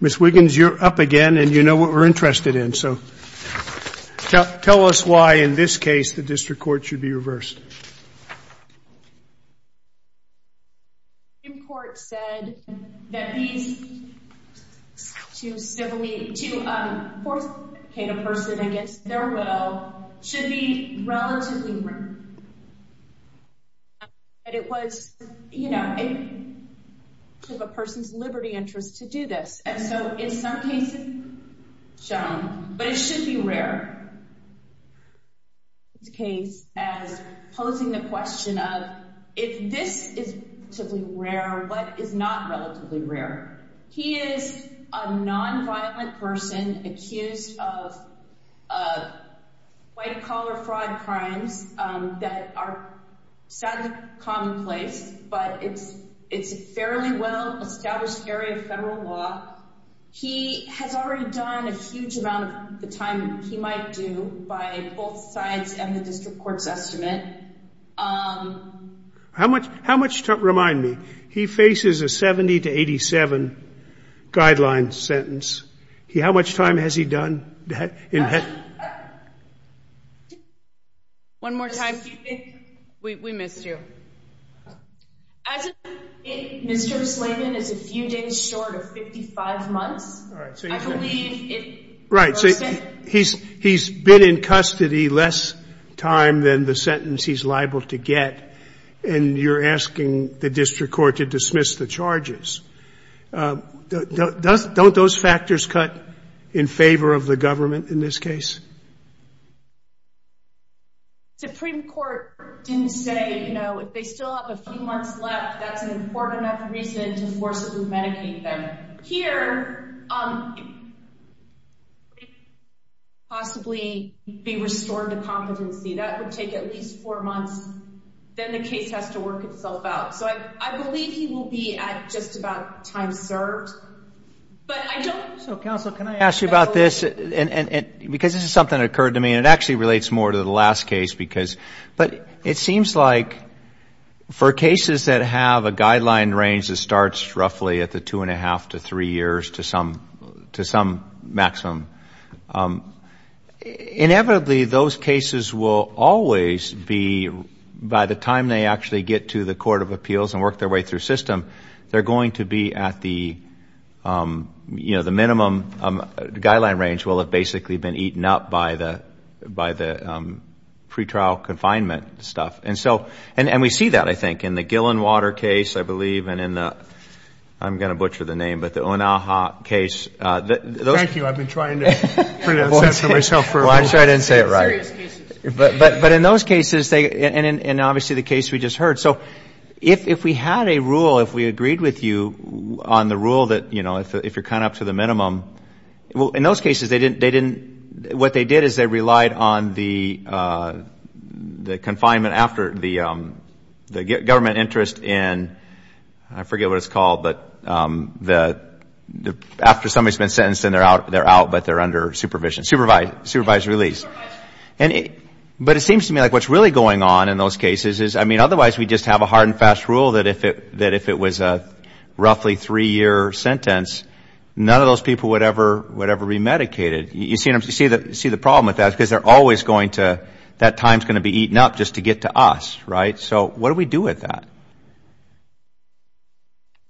Ms. Wiggins, you're up again and you know what we're interested in. Tell us why, in this case, the district court should be reversed. Ms. Wiggins, you're up again and you know what we're interested in. Ms. Wiggins, you're up again and you know what we're interested in. How much time, remind me, he faces a 70 to 87 guideline sentence. How much time has he done that? One more time. We missed you. As of today, Mr. Slavin is a few days short of 55 months. He's been in custody less time than the sentence he's liable to get. And you're asking the district court to dismiss the charges. Don't those factors cut in favor of the government in this case? The Supreme Court didn't say, you know, if they still have a few months left, that's an important enough reason to forcibly medicate them. Here, possibly be restored to competency. That would take at least four months. Then the case has to work itself out. So I believe he will be at just about time served. But I don't. So, counsel, can I ask you about this? And because this is something that occurred to me, and it actually relates more to the last case because. But it seems like for cases that have a guideline range that starts roughly at the two and a half to three years to some maximum, inevitably those cases will always be, by the time they actually get to the court of appeals and work their way through system, they're going to be at the, you know, the minimum. Guideline range will have basically been eaten up by the pretrial confinement stuff. And so, and we see that, I think, in the Gillenwater case, I believe, and in the, I'm going to butcher the name, but the Onaha case. Thank you. I've been trying to pronounce that for myself for a while. Well, I'm sure I didn't say it right. Serious cases. But in those cases, and obviously the case we just heard. So, if we had a rule, if we agreed with you on the rule that, you know, if you're kind of up to the minimum, well, in those cases, they didn't, what they did is they relied on the confinement after the government interest in, I forget what it's called, but after somebody's been sentenced and they're out, but they're under supervision, supervised release. But it seems to me like what's really going on in those cases is, I mean, otherwise we'd just have a hard and fast rule that if it was a roughly three-year sentence, none of those people would ever be medicated. You see the problem with that, because they're always going to, that time's going to be eaten up just to get to us, right? So, what do we do with that?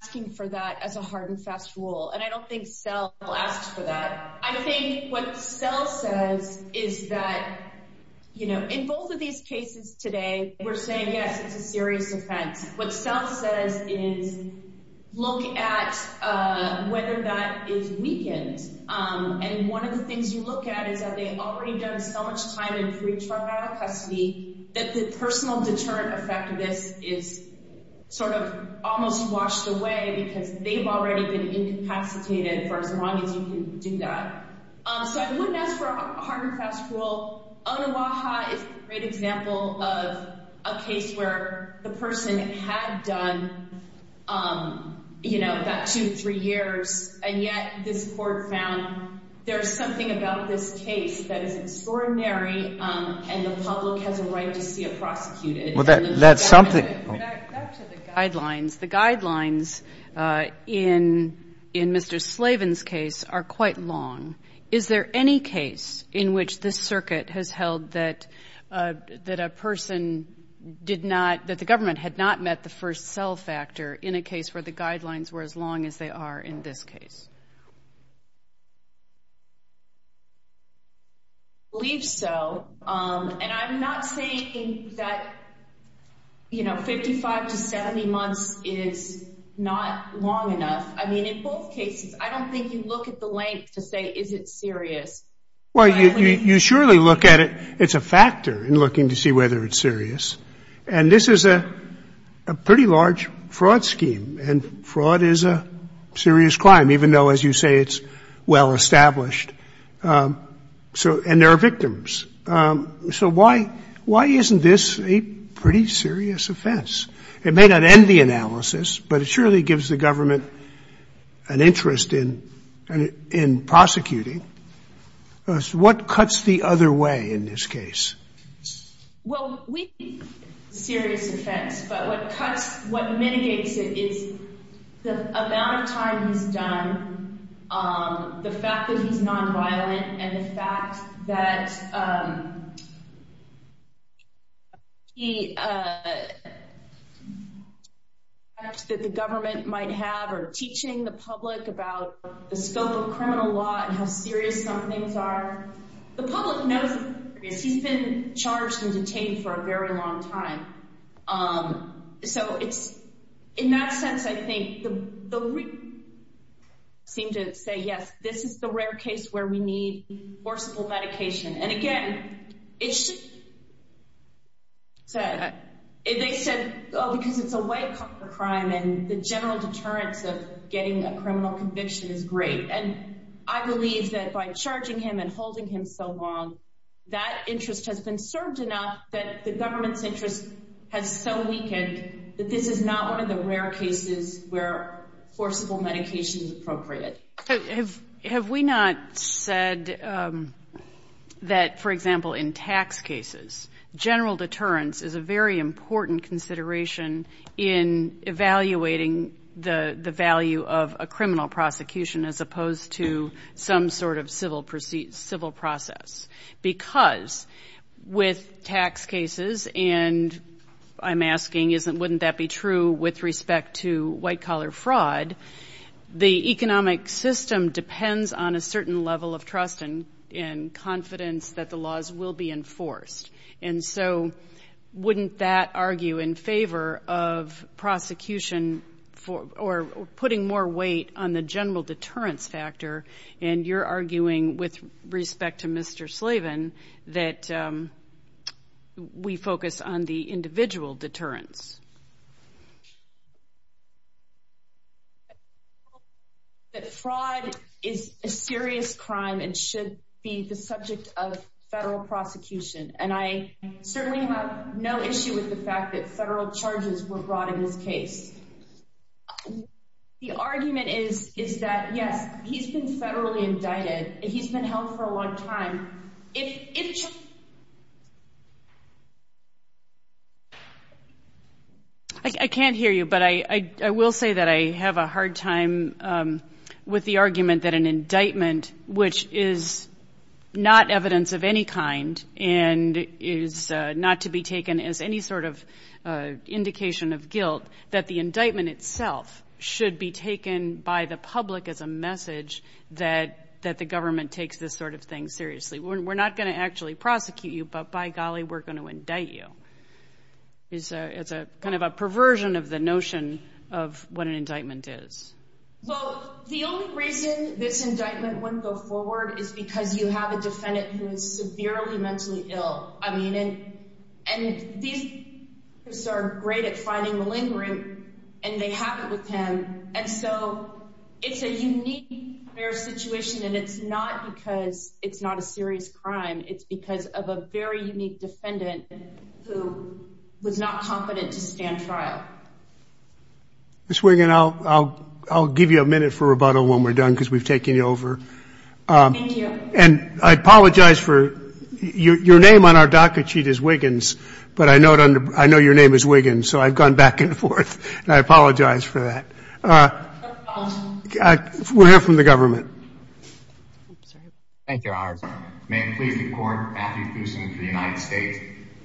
Asking for that as a hard and fast rule, and I don't think CEL asks for that. I think what CEL says is that, you know, in both of these cases today, we're saying, yes, it's a serious offense. What CEL says is, look at whether that is weakened. And one of the things you look at is that they've already done so much time in pre-traumatic custody that the personal deterrent effect of this is sort of almost washed away because they've already been incapacitated for as long as you can do that. So I wouldn't ask for a hard and fast rule. Onoaha is a great example of a case where the person had done, you know, about two, three years, and yet this Court found there's something about this case that is extraordinary, and the public has a right to see it prosecuted. Well, that's something. Back to the guidelines. The guidelines in Mr. Slavin's case are quite long. Is there any case in which this Circuit has held that a person did not, that the government had not met the first CEL factor in a case where the guidelines were as long as they are in this case? I believe so, and I'm not saying that, you know, 55 to 70 months is not long enough. I mean, in both cases, I don't think you look at the length to say, is it serious. Well, you surely look at it. It's a factor in looking to see whether it's serious. And this is a pretty large fraud scheme, and fraud is a serious crime, even though, as you say, it's well-established, and there are victims. So why isn't this a pretty serious offense? It may not end the analysis, but it surely gives the government an interest in prosecuting. What cuts the other way in this case? Well, we think it's a serious offense, but what cuts, what mitigates it is the amount of time he's done, the fact that he's nonviolent, and the fact that the government might have, or teaching the public about the scope of criminal law and how serious some things are. The public knows he's been charged and detained for a very long time. So it's, in that sense, I think the, seem to say, yes, this is the rare case where we need enforceable medication. And again, it should, they said, oh, because it's a white cop for crime, and the general deterrence of getting a criminal conviction is great. And I believe that by charging him and holding him so long, that interest has been served enough that the government's interest has so weakened that this is not one of the rare cases where enforceable medication is appropriate. Have we not said that, for example, in tax cases, general deterrence is a very important consideration in evaluating the value of a criminal prosecution as opposed to a criminal conviction? Or as opposed to some sort of civil process? Because with tax cases, and I'm asking, wouldn't that be true with respect to white-collar fraud, the economic system depends on a certain level of trust and confidence that the laws will be enforced. And so wouldn't that argue in favor of prosecution for, or putting more weight on the general deterrence factor? And you're arguing, with respect to Mr. Slavin, that we focus on the individual deterrence. That fraud is a serious crime and should be the subject of federal prosecution. And I certainly have no issue with the fact that federal charges were brought in this case. The argument is that, yes, he's been federally indicted, and he's been held for a long time. I can't hear you, but I will say that I have a hard time with the argument that an indictment, which is not evidence of any kind, and is not to be taken as any sort of indication of guilt, that the indictment is a fraud. The indictment itself should be taken by the public as a message that the government takes this sort of thing seriously. We're not going to actually prosecute you, but by golly, we're going to indict you. It's kind of a perversion of the notion of what an indictment is. Well, the only reason this indictment wouldn't go forward is because you have a defendant who is severely mentally ill. And these people are great at finding malingering, and they have it with him. And so it's a unique situation, and it's not because it's not a serious crime. It's because of a very unique defendant who was not competent to stand trial. Ms. Wiggin, I'll give you a minute for rebuttal when we're done, because we've taken you over. Thank you. And I apologize for your name on our docket sheet is Wiggins, but I know your name is Wiggins, so I've gone back and forth, and I apologize for that. We'll hear from the government. Thank you, Your Honor. May it please the Court, Matthew Kusin for the United States.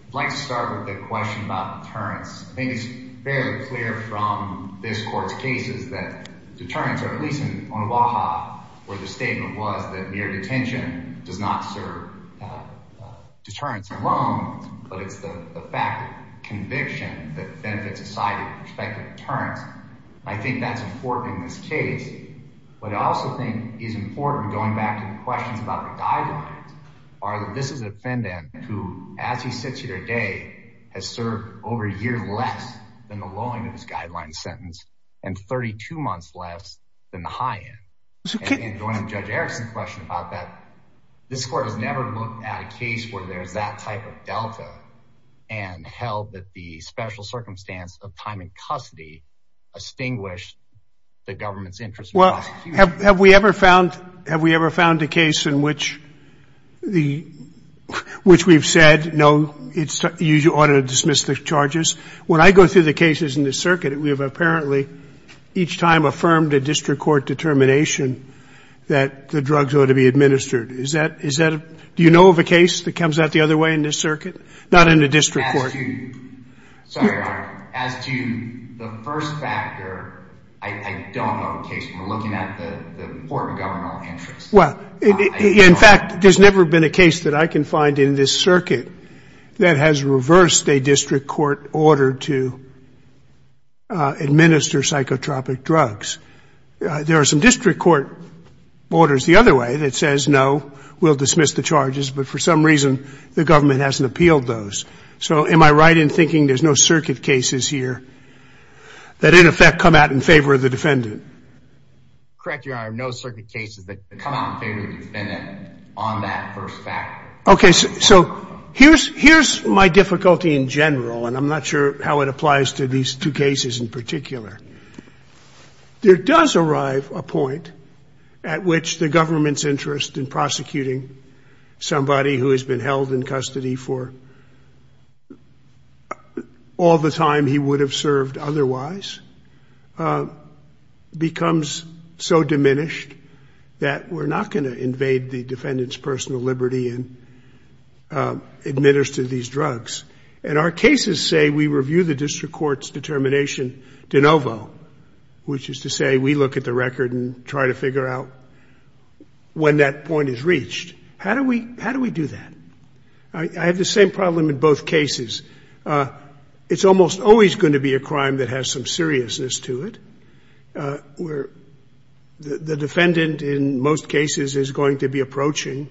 I'd like to start with a question about deterrence. I think it's fairly clear from this Court's cases that deterrence, or at least in Omaha, where the statement was that mere detention does not serve deterrence alone, but it's the fact of conviction that benefits society with respect to deterrence. I think that's important in this case. What I also think is important, going back to the questions about the guidelines, are that this is a defendant who, as he sits here today, has served over a year less than the low end of this guideline sentence, and 32 months less than the high end. And going to Judge Erickson's question about that, this Court has never looked at a case where there's that type of delta and held that the special circumstance of time in custody extinguished the government's interest. Well, have we ever found a case in which we've said, no, you ought to dismiss the charges? When I go through the cases in this circuit, we have apparently each time affirmed a district court determination that the drugs ought to be administered. Do you know of a case that comes out the other way in this circuit? Not in the district court. As to the first factor, I don't know of a case. We're looking at the court of governmental interest. Well, in fact, there's never been a case that I can find in this circuit that has reversed a district court order to administer psychotropic drugs. There are some district court orders the other way that says, no, we'll dismiss the charges, but for some reason the government hasn't appealed those. So am I right in thinking there's no circuit cases here that, in effect, come out in favor of the defendant? Correct, Your Honor, no circuit cases that come out in favor of the defendant on that first factor. Okay, so here's my difficulty in general, and I'm not sure how it applies to these two cases in particular. There does arrive a point at which the government's interest in prosecuting somebody who has been held in custody for all the time he would have served otherwise becomes so diminished that we're not going to invade the defendant's personal liberty and administer these drugs. And our cases say we review the district court's determination de novo, which is to say we look at the record and try to figure out when that point is reached. How do we do that? I have the same problem in both cases. It's almost always going to be a crime that has some seriousness to it. The defendant, in most cases, is going to be approaching,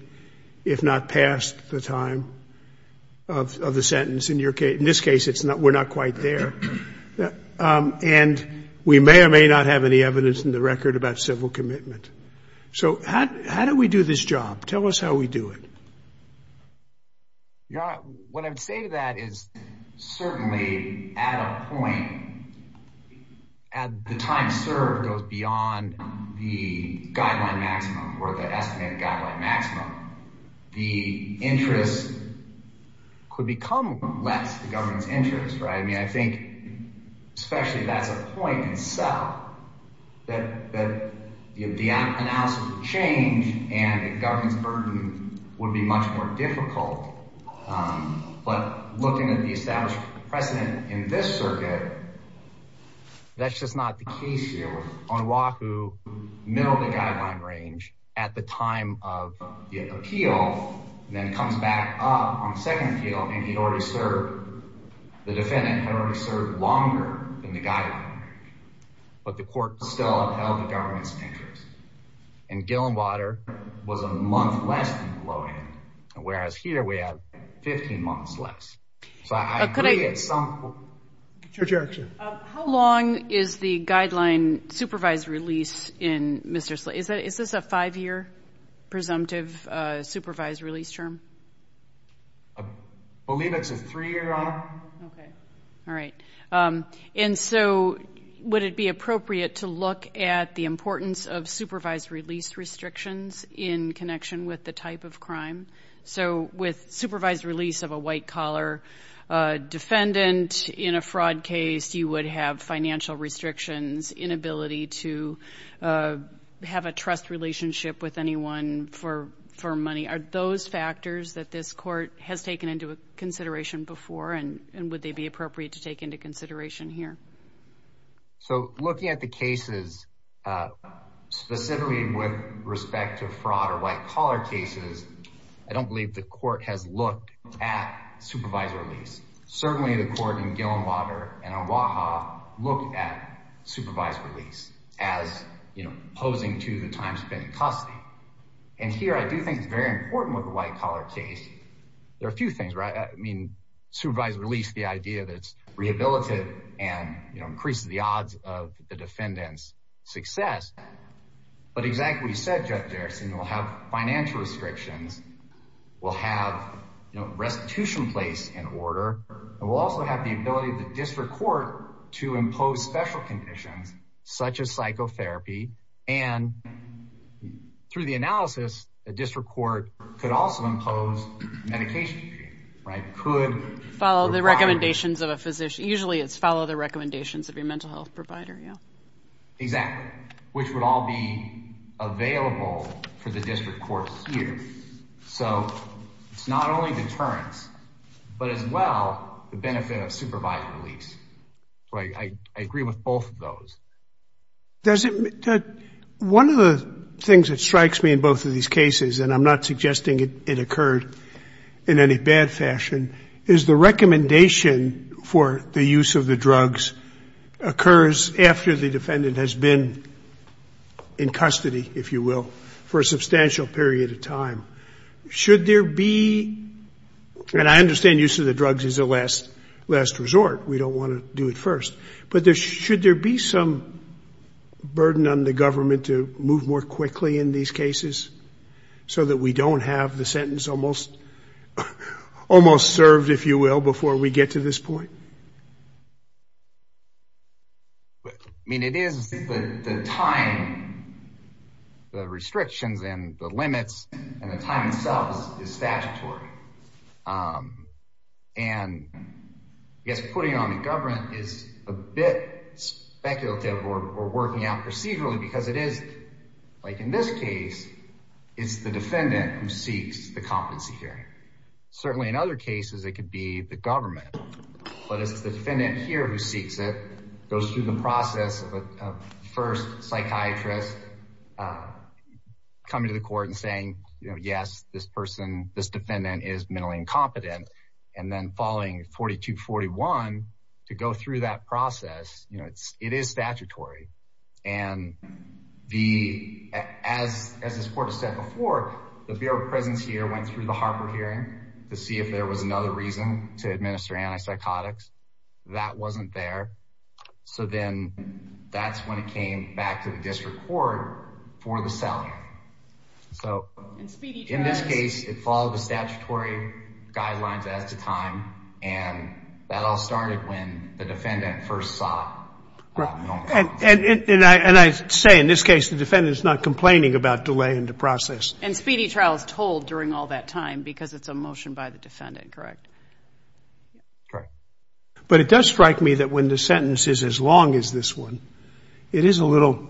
if not past, the time of the sentence. In this case, we're not quite there. And we may or may not have any evidence in the record about civil commitment. So how do we do this job? Tell us how we do it. Your Honor, what I would say to that is certainly, at a point, as the time served goes beyond the guideline maximum or the estimated guideline maximum, the interest could become less, the government's interest. I mean, I think especially if that's a point in itself, that the analysis would change and the government's burden would be much more difficult. But looking at the established precedent in this circuit, that's just not the case here. On Wahoo, middle of the guideline range, at the time of the appeal, then comes back up on the second appeal and he'd already served, the defendant had already served longer than the guideline range. But the court still upheld the government's interest. In Gillenwater, it was a month less than the low end. Whereas here, we have 15 months less. So I agree at some point. Judge Erickson. How long is the guideline supervised release in Mr. Slate? Is this a five-year presumptive supervised release term? I believe it's a three-year, Your Honor. Okay. All right. And so would it be appropriate to look at the importance of supervised release restrictions in connection with the type of crime? So with supervised release of a white-collar defendant in a fraud case, you would have financial restrictions, inability to have a trust relationship with anyone for money. Are those factors that this court has taken into consideration before and would they be appropriate to take into consideration here? So looking at the cases, specifically with respect to fraud or white-collar cases, I don't believe the court has looked at supervised release. Certainly, the court in Gillenwater and Oahu looked at supervised release as opposing to the time spent in custody. And here, I do think it's very important with a white-collar case. There are a few things, right? I mean, supervised release, the idea that it's rehabilitative and increases the odds of the defendant's success. But exactly what you said, Judge Erickson, we'll have financial restrictions, we'll have restitution placed in order, and we'll also have the ability of the district court to impose special conditions such as psychotherapy, and through the analysis, the district court could also impose medication, right? Follow the recommendations of a physician. Usually, it's follow the recommendations of your mental health provider, yeah. Exactly, which would all be available for the district court here. So it's not only deterrence, but as well, the benefit of supervised release. I agree with both of those. One of the things that strikes me in both of these cases, and I'm not suggesting it occurred in any bad fashion, is the recommendation for the use of the drugs occurs after the defendant has been in custody, if you will, for a substantial period of time. Should there be, and I understand use of the drugs is a last resort. We don't want to do it first. But should there be some burden on the government to move more quickly in these cases so that we don't have the sentence almost served, if you will, before we get to this point? I mean, it is the time, the restrictions and the limits, and the time itself is statutory. And I guess putting it on the government is a bit speculative or working out procedurally because it is, like in this case, it's the defendant who seeks the competency hearing. Certainly in other cases, it could be the government. But it's the defendant here who seeks it, goes through the process of a first psychiatrist coming to the court and saying, you know, yes, this person, this defendant is mentally incompetent. And then following 42-41 to go through that process, you know, it is statutory. And as this court has said before, the Bureau of Presence here went through the Harper hearing to see if there was another reason to administer antipsychotics. That wasn't there. So then that's when it came back to the district court for the selling. So in this case, it followed the statutory guidelines as to time. And that all started when the defendant first sought. And I say in this case the defendant is not complaining about delay in the process. And speedy trial is told during all that time because it's a motion by the defendant, correct? Correct. But it does strike me that when the sentence is as long as this one, it is a little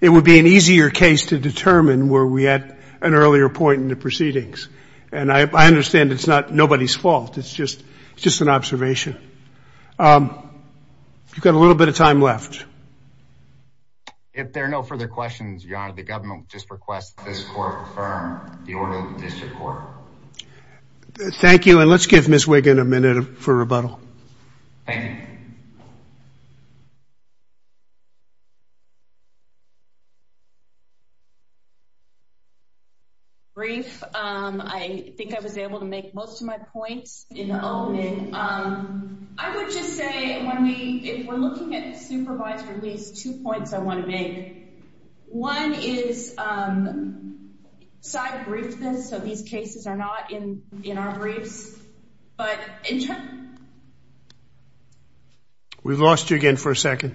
It would be an easier case to determine were we at an earlier point in the proceedings. And I understand it's not nobody's fault. It's just an observation. You've got a little bit of time left. If there are no further questions, Your Honor, the government just requests this court affirm the order of the district court. Thank you. And let's give Ms. Wiggin a minute for rebuttal. Thank you. Brief. I think I was able to make most of my points. In the opening, I would just say if we're looking at supervised release, two points I want to make. One is side briefness. So these cases are not in our briefs. But in terms of We've lost you again for a second.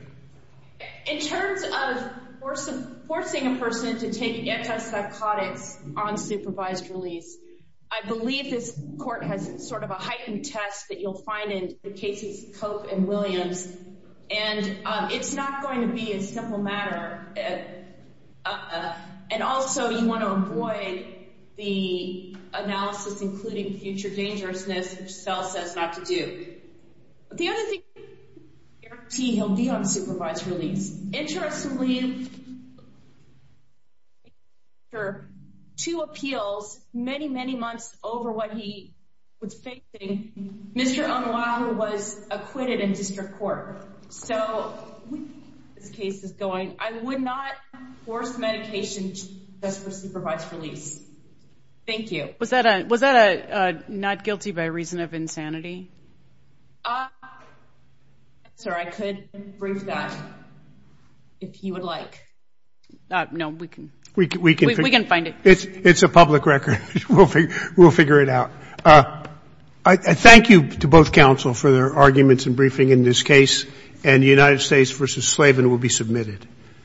In terms of forcing a person to take antipsychotics on supervised release, I believe this court has sort of a heightened test that you'll find in the cases of Cope and Williams. And it's not going to be a simple matter. And also, you want to avoid the analysis including future dangerousness, which Spell says not to do. The other thing He'll be on supervised release. Interestingly, I believe There are two appeals many, many months over what he was facing. Mr. Omaha was acquitted in district court. So this case is going. I would not force medication just for supervised release. Thank you. Was that a was that a not guilty by reason of insanity? Sir, I could bring that. If you would like. No, we can we can we can find it. It's a public record. We'll figure it out. Thank you to both counsel for their arguments and briefing in this case. And the United States versus Slavin will be submitted.